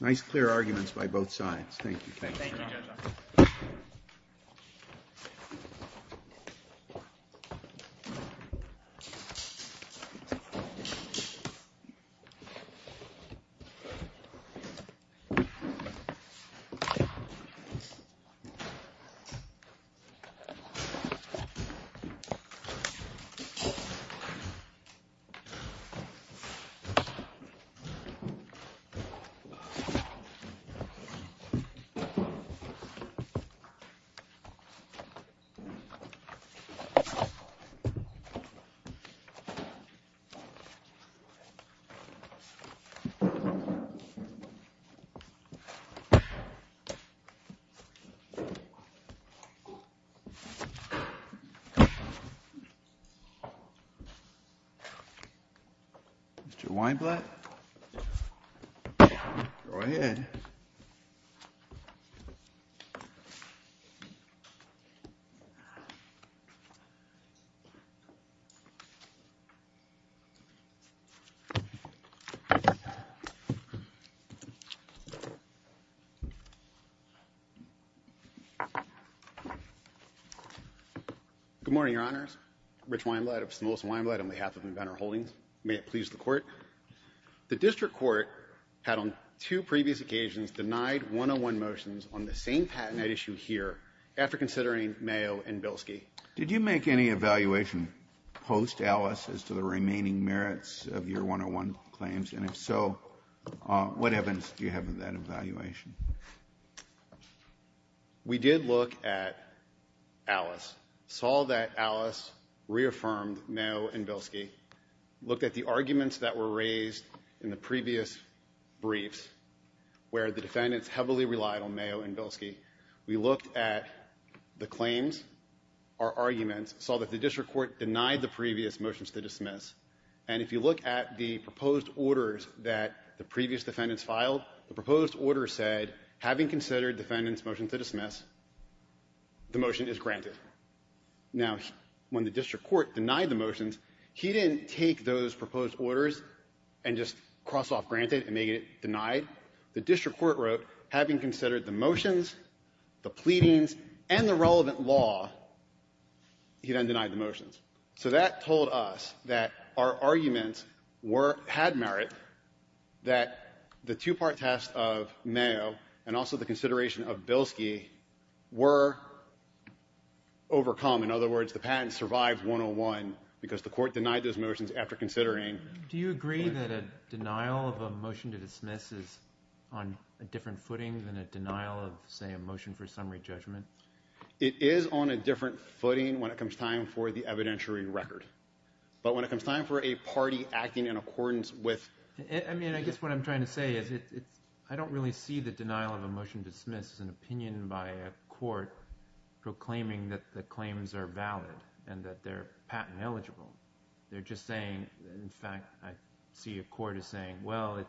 Nice, clear arguments by both sides. Thank you. Mr. Weinblatt. Go ahead. Good morning, Your Honors. Rich Weinblatt of St. Louis & Weinblatt on behalf of Inventor Holdings. The district court had, on two previous occasions, denied 101 motions on the same patented issue here after considering Mayo and Bilski. Did you make any evaluation post-Alice as to the remaining merits of your 101 claims? And if so, what evidence do you have of that evaluation? We did look at Alice, saw that Alice reaffirmed Mayo and Bilski, looked at the arguments that were raised in the previous briefs where the defendants heavily relied on Mayo and Bilski. We looked at the claims, our arguments, saw that the district court denied the previous motions to dismiss, and if you look at the proposed orders that the previous defendants filed, the proposed order said, having considered defendants' motions to dismiss, the motion is granted. Now, when the district court denied the motions, he didn't take those proposed orders and just cross off granted and make it denied. The district court wrote, having considered the motions, the pleadings, and the relevant law, he then denied the motions. So that told us that our arguments had merit, that the two-part test of Mayo and also the consideration of Bilski were overcome. In other words, the patent survived 101 because the court denied those motions after considering. Do you agree that a denial of a motion to dismiss is on a different footing than a denial of, say, a motion for summary judgment? It is on a different footing when it comes time for the evidentiary record. But when it comes time for a party acting in accordance with— I mean, I guess what I'm trying to say is I don't really see the denial of a motion to dismiss as an opinion by a court proclaiming that the claims are valid and that they're patent eligible. They're just saying, in fact, I see a court as saying, well,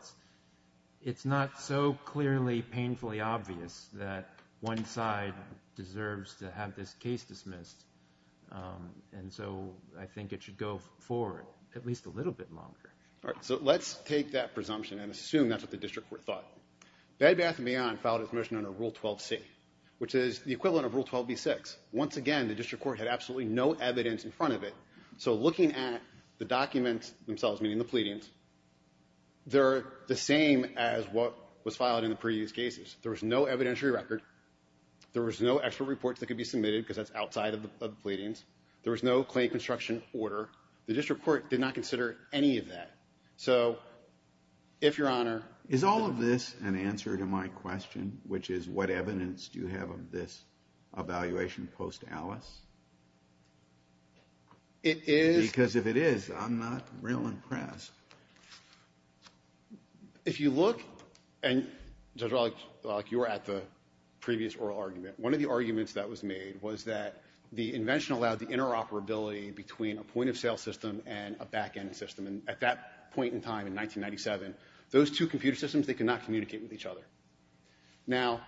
it's not so clearly painfully obvious that one side deserves to have this case dismissed. And so I think it should go forward at least a little bit longer. All right, so let's take that presumption and assume that's what the district court thought. Bed Bath & Beyond filed its motion under Rule 12c, which is the equivalent of Rule 12b-6. Once again, the district court had absolutely no evidence in front of it. So looking at the documents themselves, meaning the pleadings, they're the same as what was filed in the previous cases. There was no evidentiary record. There was no expert reports that could be submitted because that's outside of the pleadings. There was no claim construction order. The district court did not consider any of that. So if Your Honor ---- Is all of this an answer to my question, which is what evidence do you have of this evaluation post Alice? It is. Because if it is, I'm not real impressed. If you look, and, Judge Wallach, you were at the previous oral argument. One of the arguments that was made was that the invention allowed the interoperability between a point-of-sale system and a back-end system. And at that point in time, in 1997, those two computer systems, they could not communicate with each other. Now,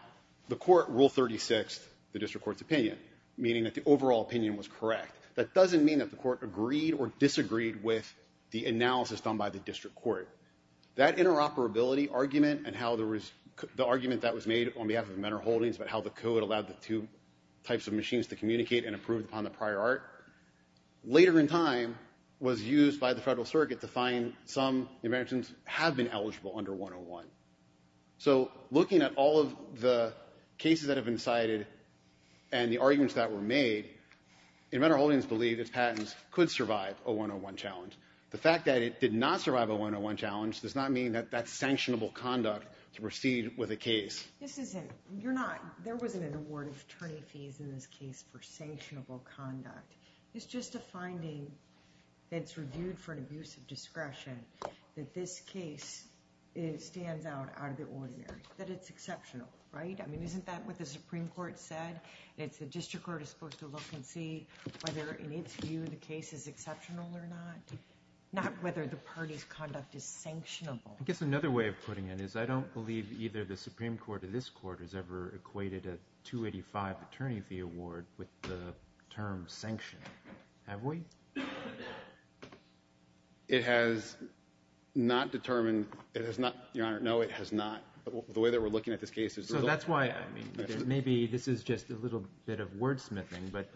the court ruled 36th the district court's opinion, meaning that the overall opinion was correct. That doesn't mean that the court agreed or disagreed with the analysis done by the district court. That interoperability argument and the argument that was made on behalf of Mentor Holdings about how the code allowed the two types of machines to communicate and improve upon the prior art, later in time was used by the Federal Circuit to find some inventions have been eligible under 101. So looking at all of the cases that have been cited and the arguments that were made, Mentor Holdings believed its patents could survive a 101 challenge. The fact that it did not survive a 101 challenge does not mean that that's sanctionable conduct to proceed with a case. There wasn't an award of attorney fees in this case for sanctionable conduct. It's just a finding that's reviewed for an abuse of discretion that this case stands out out of the ordinary, that it's exceptional, right? I mean, isn't that what the Supreme Court said? The district court is supposed to look and see whether, in its view, the case is exceptional or not, not whether the party's conduct is sanctionable. I guess another way of putting it is I don't believe either the Supreme Court or this court has ever equated a 285 attorney fee award with the term sanction. Have we? It has not determined. It has not, Your Honor, no, it has not. The way that we're looking at this case is... So that's why, I mean, maybe this is just a little bit of wordsmithing, but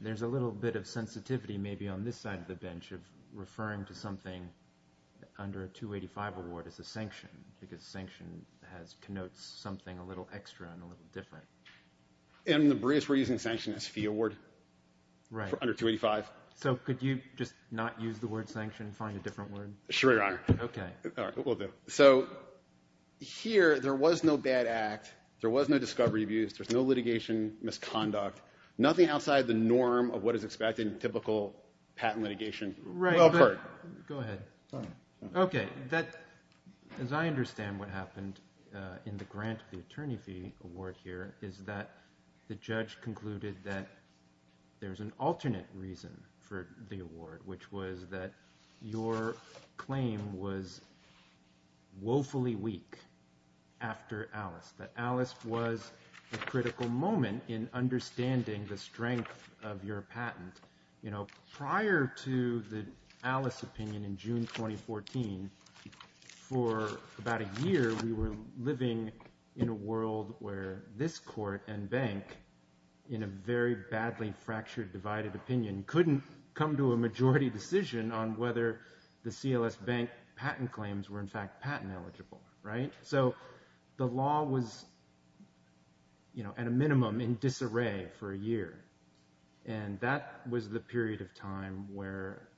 there's a little bit of sensitivity maybe on this side of the bench of referring to something under a 285 award as a sanction because sanction connotes something a little extra and a little different. In the briefs we're using, sanction is fee award under 285. Right. So could you just not use the word sanction and find a different word? Sure, Your Honor. Okay. All right, we'll do it. So here there was no bad act, there was no discovery of abuse, there's no litigation misconduct, nothing outside the norm of what is expected in typical patent litigation. Right. Go ahead. Sorry. Okay. As I understand what happened in the grant of the attorney fee award here is that the judge concluded that there's an alternate reason for the award, which was that your claim was woefully weak after Alice, that Alice was a critical moment in understanding the strength of your patent. Prior to the Alice opinion in June 2014, for about a year we were living in a world where this court and bank, in a very badly fractured divided opinion, couldn't come to a majority decision on whether the CLS Bank patent claims were in fact patent eligible. Right. So the law was at a minimum in disarray for a year. And that was the period of time where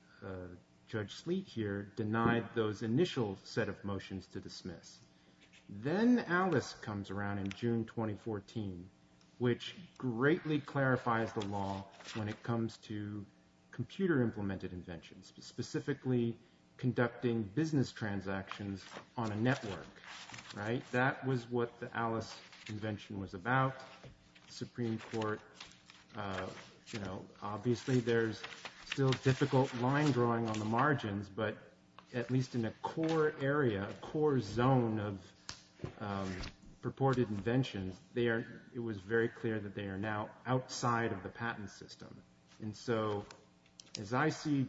Judge Sleet here denied those initial set of motions to dismiss. Then Alice comes around in June 2014, which greatly clarifies the law when it comes to computer implemented inventions, specifically conducting business transactions on a network. Right. That was what the Alice invention was about. The Supreme Court, you know, obviously there's still difficult line drawing on the margins, but at least in a core area, a core zone of purported inventions, it was very clear that they are now outside of the patent system. And so as I see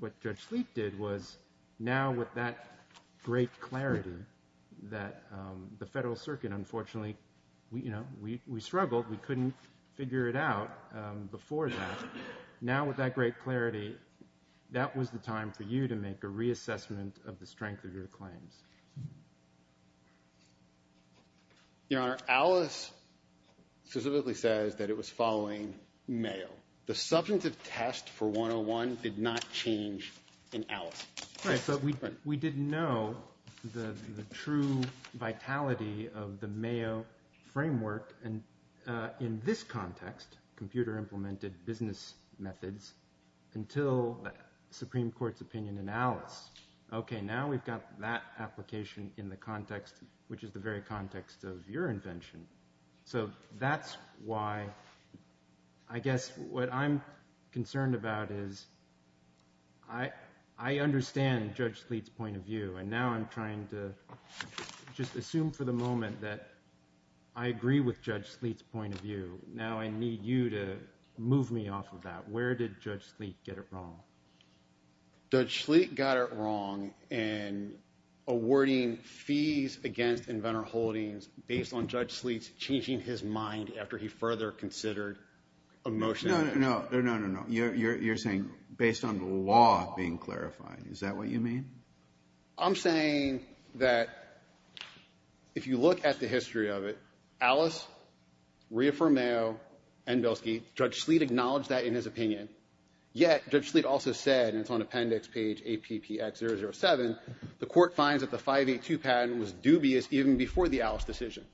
what Judge Sleet did was now with that great clarity that the Federal Circuit, unfortunately, you know, we struggled. We couldn't figure it out before that. Now with that great clarity, that was the time for you to make a reassessment of the strength of your claims. Your Honor, Alice specifically says that it was following Mayo. The substantive test for 101 did not change in Alice. Right, but we didn't know the true vitality of the Mayo framework. And in this context, computer implemented business methods until the Supreme Court's opinion in Alice. Okay, now we've got that application in the context, which is the very context of your invention. So that's why I guess what I'm concerned about is I understand Judge Sleet's point of view, and now I'm trying to just assume for the moment that I agree with Judge Sleet's point of view. Now I need you to move me off of that. Where did Judge Sleet get it wrong? Judge Sleet got it wrong in awarding fees against inventor holdings based on Judge Sleet's changing his mind after he further considered a motion. No, no, no. You're saying based on the law being clarified. Is that what you mean? I'm saying that if you look at the history of it, Alice reaffirmed Mayo and Belsky. Judge Sleet acknowledged that in his opinion. Yet Judge Sleet also said, and it's on appendix page APPX007, the court finds that the 582 patent was dubious even before the Alice decision.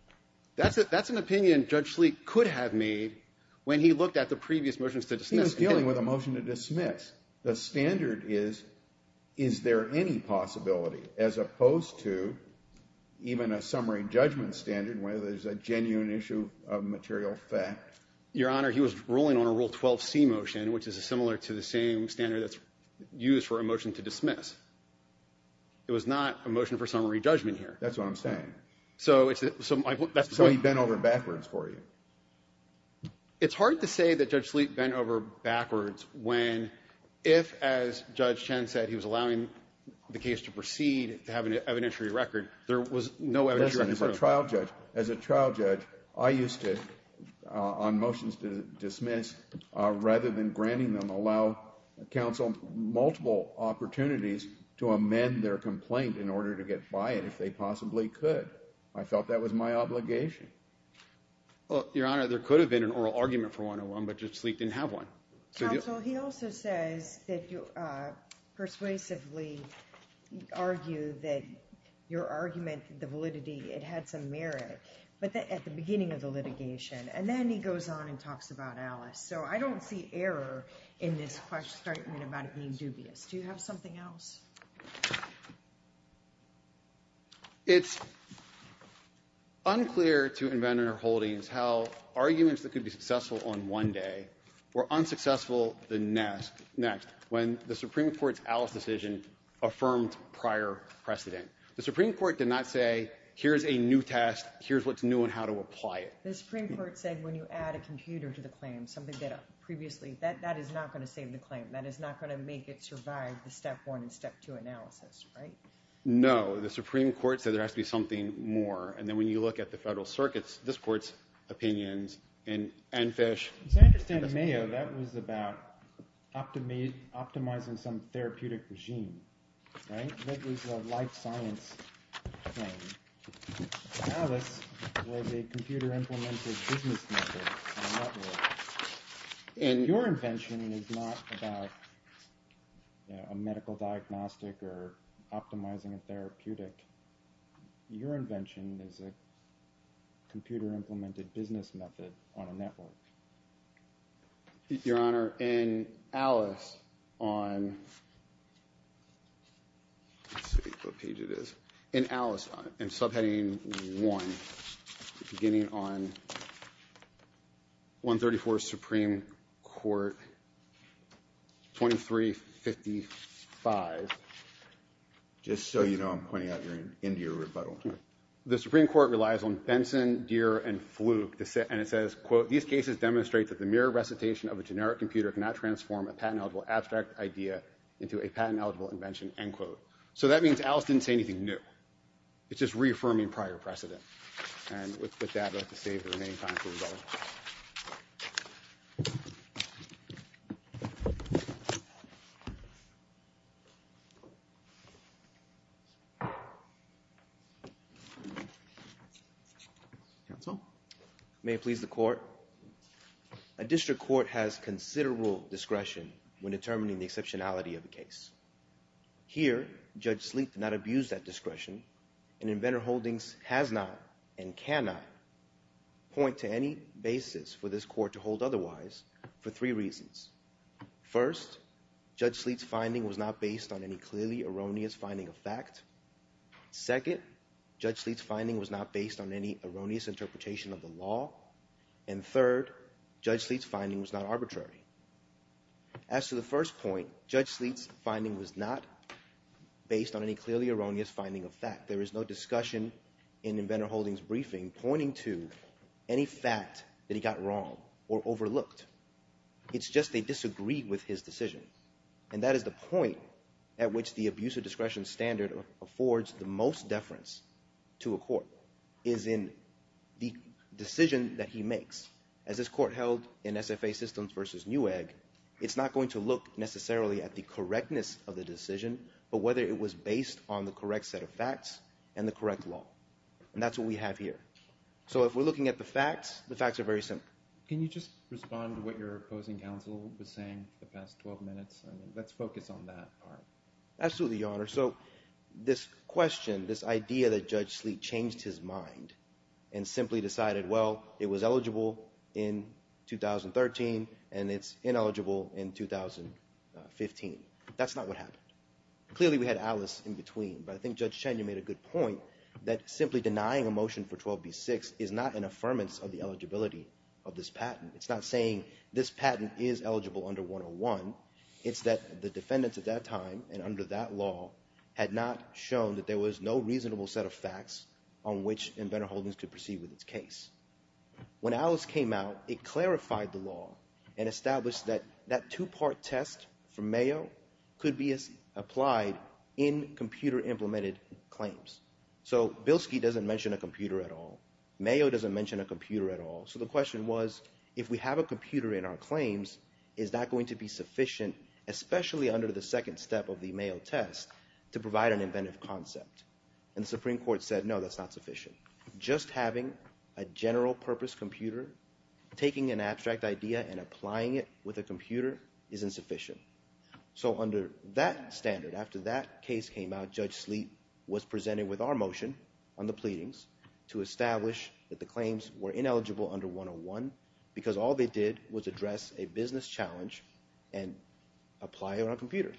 That's an opinion Judge Sleet could have made when he looked at the previous motions to dismiss. He was dealing with a motion to dismiss. The standard is, is there any possibility, as opposed to even a summary judgment standard where there's a genuine issue of material fact. Your Honor, he was ruling on a Rule 12c motion, which is similar to the same standard that's used for a motion to dismiss. It was not a motion for summary judgment here. That's what I'm saying. So he bent over backwards for you. It's hard to say that Judge Sleet bent over backwards when if, as Judge Chen said, he was allowing the case to proceed, to have an evidentiary record, there was no evidentiary record. Listen, as a trial judge, as a trial judge, I used to, on motions to dismiss, rather than granting them, allow counsel multiple opportunities to amend their complaint in order to get by it if they possibly could. I felt that was my obligation. Your Honor, there could have been an oral argument for 101, but Judge Sleet didn't have one. Counsel, he also says that you persuasively argue that your argument, the validity, it had some merit, but at the beginning of the litigation. And then he goes on and talks about Alice. So I don't see error in this statement about it being dubious. Do you have something else? It's unclear to Inventor Holdings how arguments that could be successful on one day were unsuccessful the next, when the Supreme Court's Alice decision affirmed prior precedent. The Supreme Court did not say, here's a new test, here's what's new and how to apply it. The Supreme Court said when you add a computer to the claim, something that previously, that is not going to save the claim. That is not going to make it survive the step one and step two. No, the Supreme Court said there has to be something more. And then when you look at the Federal Circuit's, this Court's opinions, and Fish. As I understand it, Mayo, that was about optimizing some therapeutic regime. That was a life science claim. Alice was a computer-implemented business method. And your invention is not about a medical diagnostic or optimizing a therapeutic. Your invention is a computer-implemented business method on a network. Your Honor, in Alice on, let's see what page it is. In Alice, in subheading one, beginning on 134 Supreme Court 2355. Just so you know, I'm pointing out you're into your rebuttal. The Supreme Court relies on Benson, Deere, and Fluke, and it says, quote, these cases demonstrate that the mere recitation of a generic computer cannot transform a patent-eligible abstract idea into a patent-eligible invention, end quote. So that means Alice didn't say anything new. It's just reaffirming prior precedent. And with that, I'd like to save the remaining time for rebuttal. Counsel? May it please the Court? A district court has considerable discretion when determining the exceptionality of a case. Here, Judge Sleet did not abuse that discretion, and Inventor Holdings has not and cannot point to any basis for this Court to hold otherwise for three reasons. First, Judge Sleet's finding was not based on any clearly erroneous finding of fact. Second, Judge Sleet's finding was not based on any erroneous interpretation of the law. And third, Judge Sleet's finding was not arbitrary. As to the first point, Judge Sleet's finding was not based on any clearly erroneous finding of fact. There is no discussion in Inventor Holdings' briefing pointing to any fact that he got wrong or overlooked. It's just they disagreed with his decision. And that is the point at which the abuse of discretion standard affords the most deference to a court, is in the decision that he makes. As this Court held in SFA Systems v. Newegg, it's not going to look necessarily at the correctness of the decision, but whether it was based on the correct set of facts and the correct law. And that's what we have here. So if we're looking at the facts, the facts are very simple. Can you just respond to what your opposing counsel was saying for the past 12 minutes? Let's focus on that part. Absolutely, Your Honor. So this question, this idea that Judge Sleet changed his mind and simply decided, well, it was eligible in 2013 and it's ineligible in 2015. That's not what happened. Clearly we had Alice in between, but I think Judge Cheney made a good point that simply denying a motion for 12b-6 is not an affirmance of the eligibility of this patent. It's not saying this patent is eligible under 101. It's that the defendants at that time and under that law had not shown that there was no reasonable set of facts on which Inventor Holdings could proceed with its case. When Alice came out, it clarified the law and established that that two-part test for Mayo could be applied in computer-implemented claims. So Bilski doesn't mention a computer at all. Mayo doesn't mention a computer at all. So the question was, if we have a computer in our claims, is that going to be sufficient, especially under the second step of the Mayo test, to provide an inventive concept? And the Supreme Court said, no, that's not sufficient. Just having a general-purpose computer, taking an abstract idea and applying it with a computer, isn't sufficient. So under that standard, after that case came out, Judge Sleet was presented with our motion on the pleadings to establish that the claims were ineligible under 101 because all they did was address a business challenge and apply it on a computer.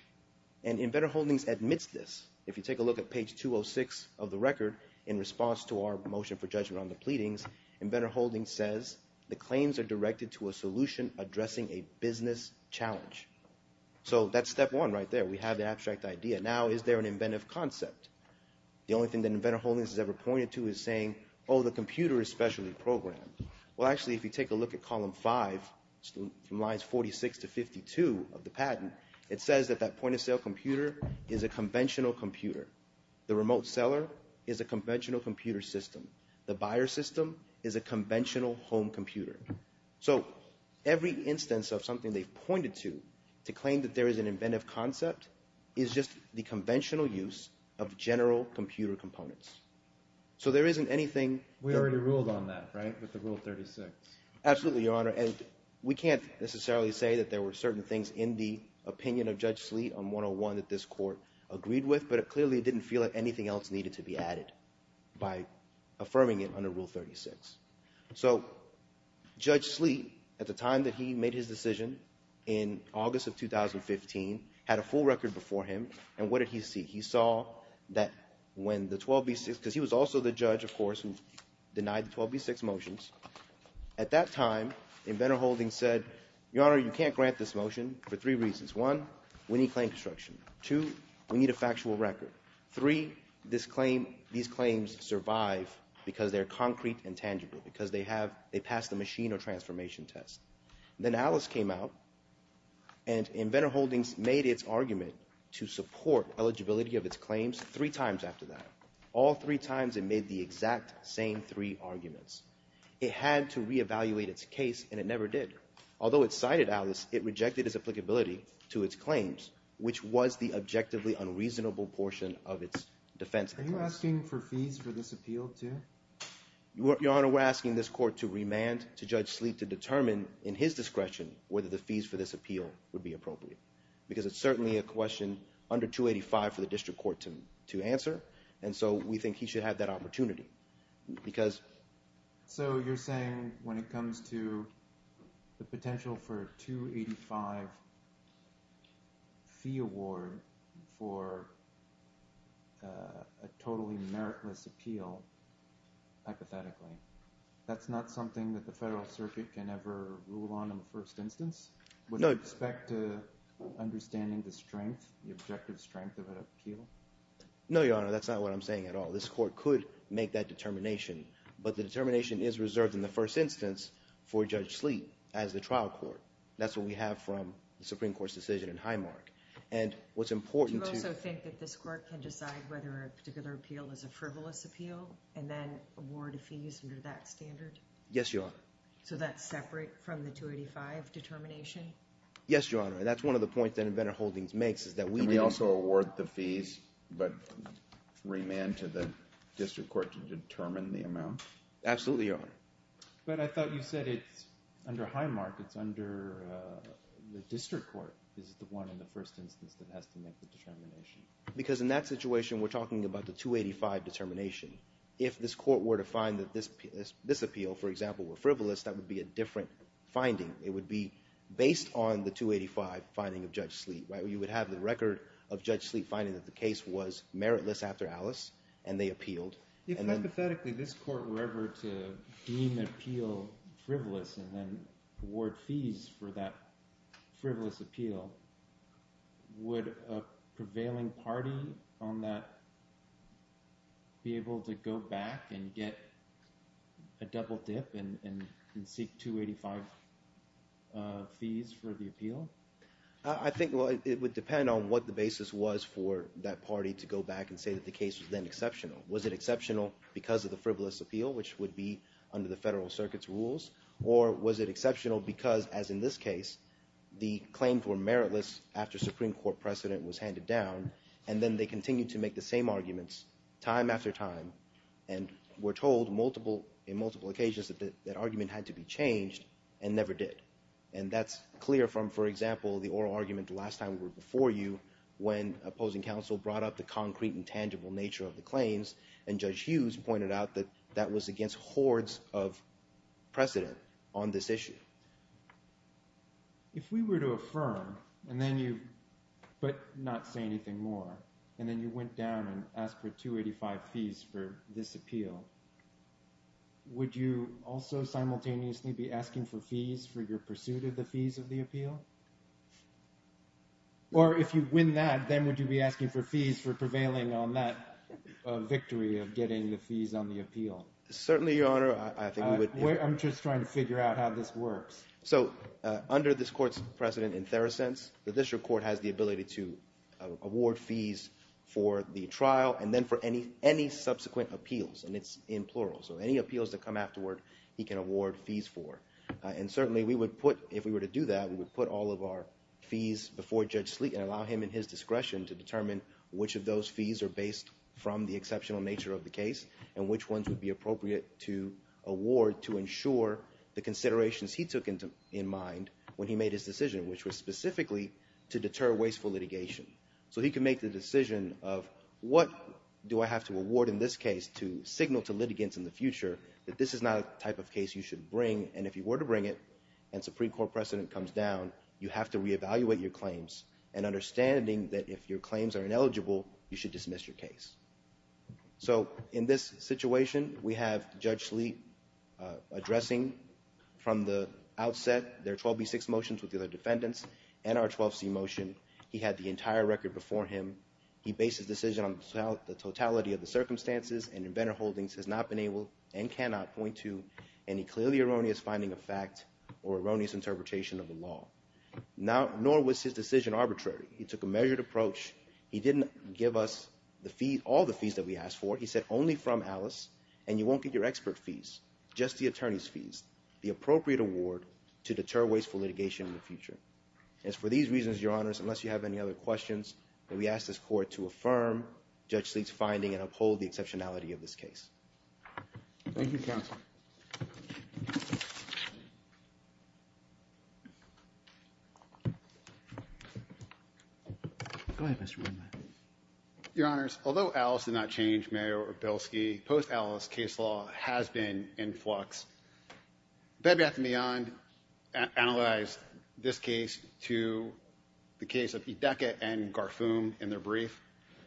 And Inventor Holdings admits this. If you take a look at page 206 of the record, in response to our motion for judgment on the pleadings, Inventor Holdings says, the claims are directed to a solution addressing a business challenge. So that's step one right there. We have the abstract idea. Now, is there an inventive concept? The only thing that Inventor Holdings has ever pointed to is saying, oh, the computer is specially programmed. Well, actually, if you take a look at column 5, from lines 46 to 52 of the patent, it says that that point-of-sale computer is a conventional computer. The remote seller is a conventional computer system. The buyer system is a conventional home computer. So every instance of something they've pointed to to claim that there is an inventive concept is just the conventional use of general computer components. So there isn't anything... We already ruled on that, right, with the Rule 36? Absolutely, Your Honor, and we can't necessarily say that there were certain things in the opinion of Judge Sleet on 101 that this Court agreed with, but it clearly didn't feel like anything else needed to be added by affirming it under Rule 36. So Judge Sleet, at the time that he made his decision, in August of 2015, had a full record before him, and what did he see? He saw that when the 12b-6... Because he was also the judge, of course, who denied the 12b-6 motions. At that time, Inventor Holdings said, Your Honor, you can't grant this motion for three reasons. One, we need claim construction. Two, we need a factual record. Three, these claims survive because they're concrete and tangible, because they passed the machine or transformation test. Then Alice came out, and Inventor Holdings made its argument to support eligibility of its claims three times after that. All three times, it made the exact same three arguments. It had to re-evaluate its case, and it never did. Although it cited Alice, it rejected its applicability to its claims, which was the objectively unreasonable portion of its defense. Are you asking for fees for this appeal, too? Your Honor, we're asking this court to remand to Judge Sleet to determine, in his discretion, whether the fees for this appeal would be appropriate, because it's certainly a question under 285 for the district court to answer, and so we think he should have that opportunity, because... So you're saying, when it comes to the potential for a 285 fee award for a totally meritless appeal, hypothetically, that's not something that the Federal Circuit can ever rule on in the first instance? No. With respect to understanding the strength, the objective strength of an appeal? No, Your Honor, that's not what I'm saying at all. This court could make that determination, but the determination is reserved in the first instance for Judge Sleet as the trial court. That's what we have from the Supreme Court's decision in Highmark, and what's important to... Do you also think that this court can decide whether a particular appeal is a frivolous appeal and then award fees under that standard? Yes, Your Honor. So that's separate from the 285 determination? Yes, Your Honor, and that's one of the points that Inventor Holdings makes, is that we... Can we also award the fees, but remand to the district court to determine the amount? Absolutely, Your Honor. But I thought you said it's under Highmark, it's under the district court is the one in the first instance that has to make the determination. Because in that situation, we're talking about the 285 determination. If this court were to find that this appeal, for example, were frivolous, that would be a different finding. It would be based on the 285 finding of Judge Sleet. You would have the record of Judge Sleet finding that the case was meritless after Alice, and they appealed. If, hypothetically, this court were ever to deem an appeal frivolous and then award fees for that frivolous appeal, would a prevailing party on that be able to go back and get a double dip and seek 285 fees for the appeal? I think it would depend on what the basis was for that party to go back and say that the case was then exceptional. Was it exceptional because of the frivolous appeal, which would be under the Federal Circuit's rules, or was it exceptional because, as in this case, the claims were meritless after Supreme Court precedent was handed down, and then they continued to make the same arguments time after time and were told in multiple occasions that that argument had to be changed and never did. And that's clear from, for example, the oral argument the last time we were before you, when opposing counsel brought up the concrete and tangible nature of the claims, and Judge Hughes pointed out that that was against hordes of precedent on this issue. If we were to affirm, but not say anything more, and then you went down and asked for 285 fees for this appeal, would you also simultaneously be asking for fees for your pursuit of the fees of the appeal? Or if you win that, then would you be asking for fees for prevailing on that victory of getting the fees on the appeal? Certainly, Your Honor. I think we would. I'm just trying to figure out how this works. So under this court's precedent in Theracense, the district court has the ability to award fees for the trial and then for any subsequent appeals. And it's in plural. So any appeals that come afterward, he can award fees for. And certainly, if we were to do that, we would put all of our fees before Judge Sleet and allow him, in his discretion, to determine which of those fees are based from the exceptional nature of the case and which ones would be appropriate to award to ensure the considerations he took in mind when he made his decision, which was specifically to deter wasteful litigation. So he could make the decision of, what do I have to award in this case to signal to litigants in the future that this is not a type of case you should bring? And if you were to bring it and Supreme Court precedent comes down, you have to reevaluate your claims and understanding that if your claims are ineligible, you should dismiss your case. So in this situation, we have Judge Sleet addressing from the outset their 12B6 motions with the other defendants and our 12C motion. He had the entire record before him. He based his decision on the totality of the circumstances and in better holdings has not been able and cannot point to any clearly erroneous finding of fact or erroneous interpretation of the law. Nor was his decision arbitrary. He took a measured approach. He didn't give us all the fees that we asked for. He said only from Alice, and you won't get your expert fees, just the attorney's fees, the appropriate award to deter wasteful litigation in the future. And it's for these reasons, Your Honors, unless you have any other questions, that we ask this court to affirm Judge Sleet's finding and uphold the exceptionality of this case. Thank you, counsel. Go ahead, Mr. Weinman. Your Honors, although Alice did not change, Mayor Orbelski, post-Alice, case law has been in flux. Bed, Bath, and Beyond analyzed this case to the case of Edeka and Garfoum in their brief.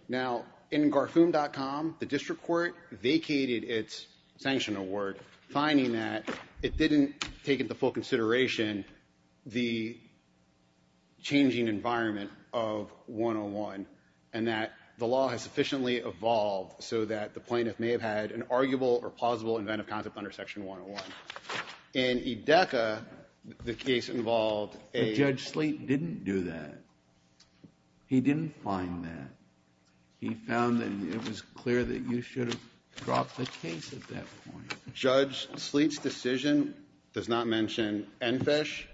Now, in Garfoum.com, the district court vacated its sanction award, finding that it didn't take into full consideration the changing environment of 101, and that the law has sufficiently evolved so that the plaintiff may have had an arguable or plausible inventive concept under Section 101. In Edeka, the case involved a ---- But Judge Sleet didn't do that. He didn't find that. He found that it was clear that you should have dropped the case at that point. Judge Sleet's decision does not mention ENFSH,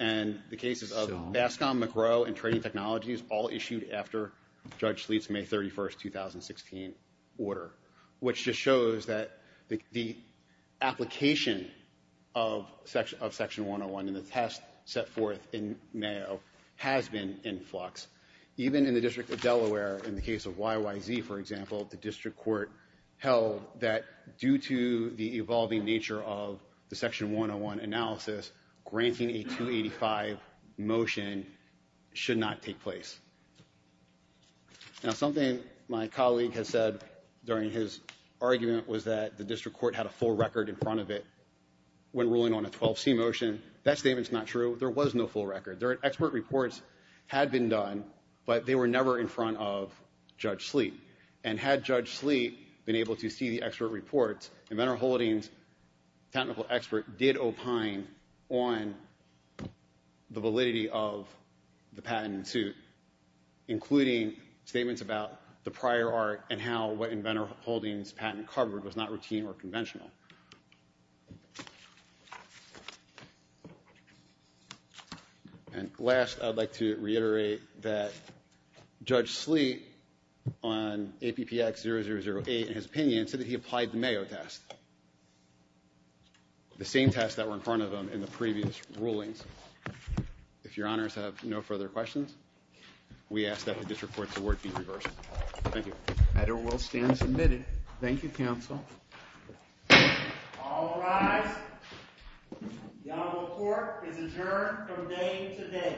and the cases of Bascom, McGrow, and Trading Technologies, all issued after Judge Sleet's May 31, 2016, order, which just shows that the application of Section 101 and the test set forth in Mayo has been in flux. Even in the District of Delaware, in the case of YYZ, for example, the district court held that due to the evolving nature of the Section 101 analysis, granting a 285 motion should not take place. Now, something my colleague has said during his argument was that the district court had a full record in front of it when ruling on a 12C motion. That statement's not true. There was no full record. Expert reports had been done, but they were never in front of Judge Sleet. And had Judge Sleet been able to see the expert reports, Inventor Holdings' technical expert did opine on the validity of the patent in suit, including statements about the prior art and how what Inventor Holdings' patent covered was not routine or conventional. And last, I'd like to reiterate that Judge Sleet, on APPX 0008, in his opinion, said that he applied the Mayo test, the same test that were in front of him in the previous rulings. If your honors have no further questions, we ask that the district court's award be reversed. Thank you. The matter will stand submitted. Thank you, counsel. All rise. The honorable court is adjourned from day to day.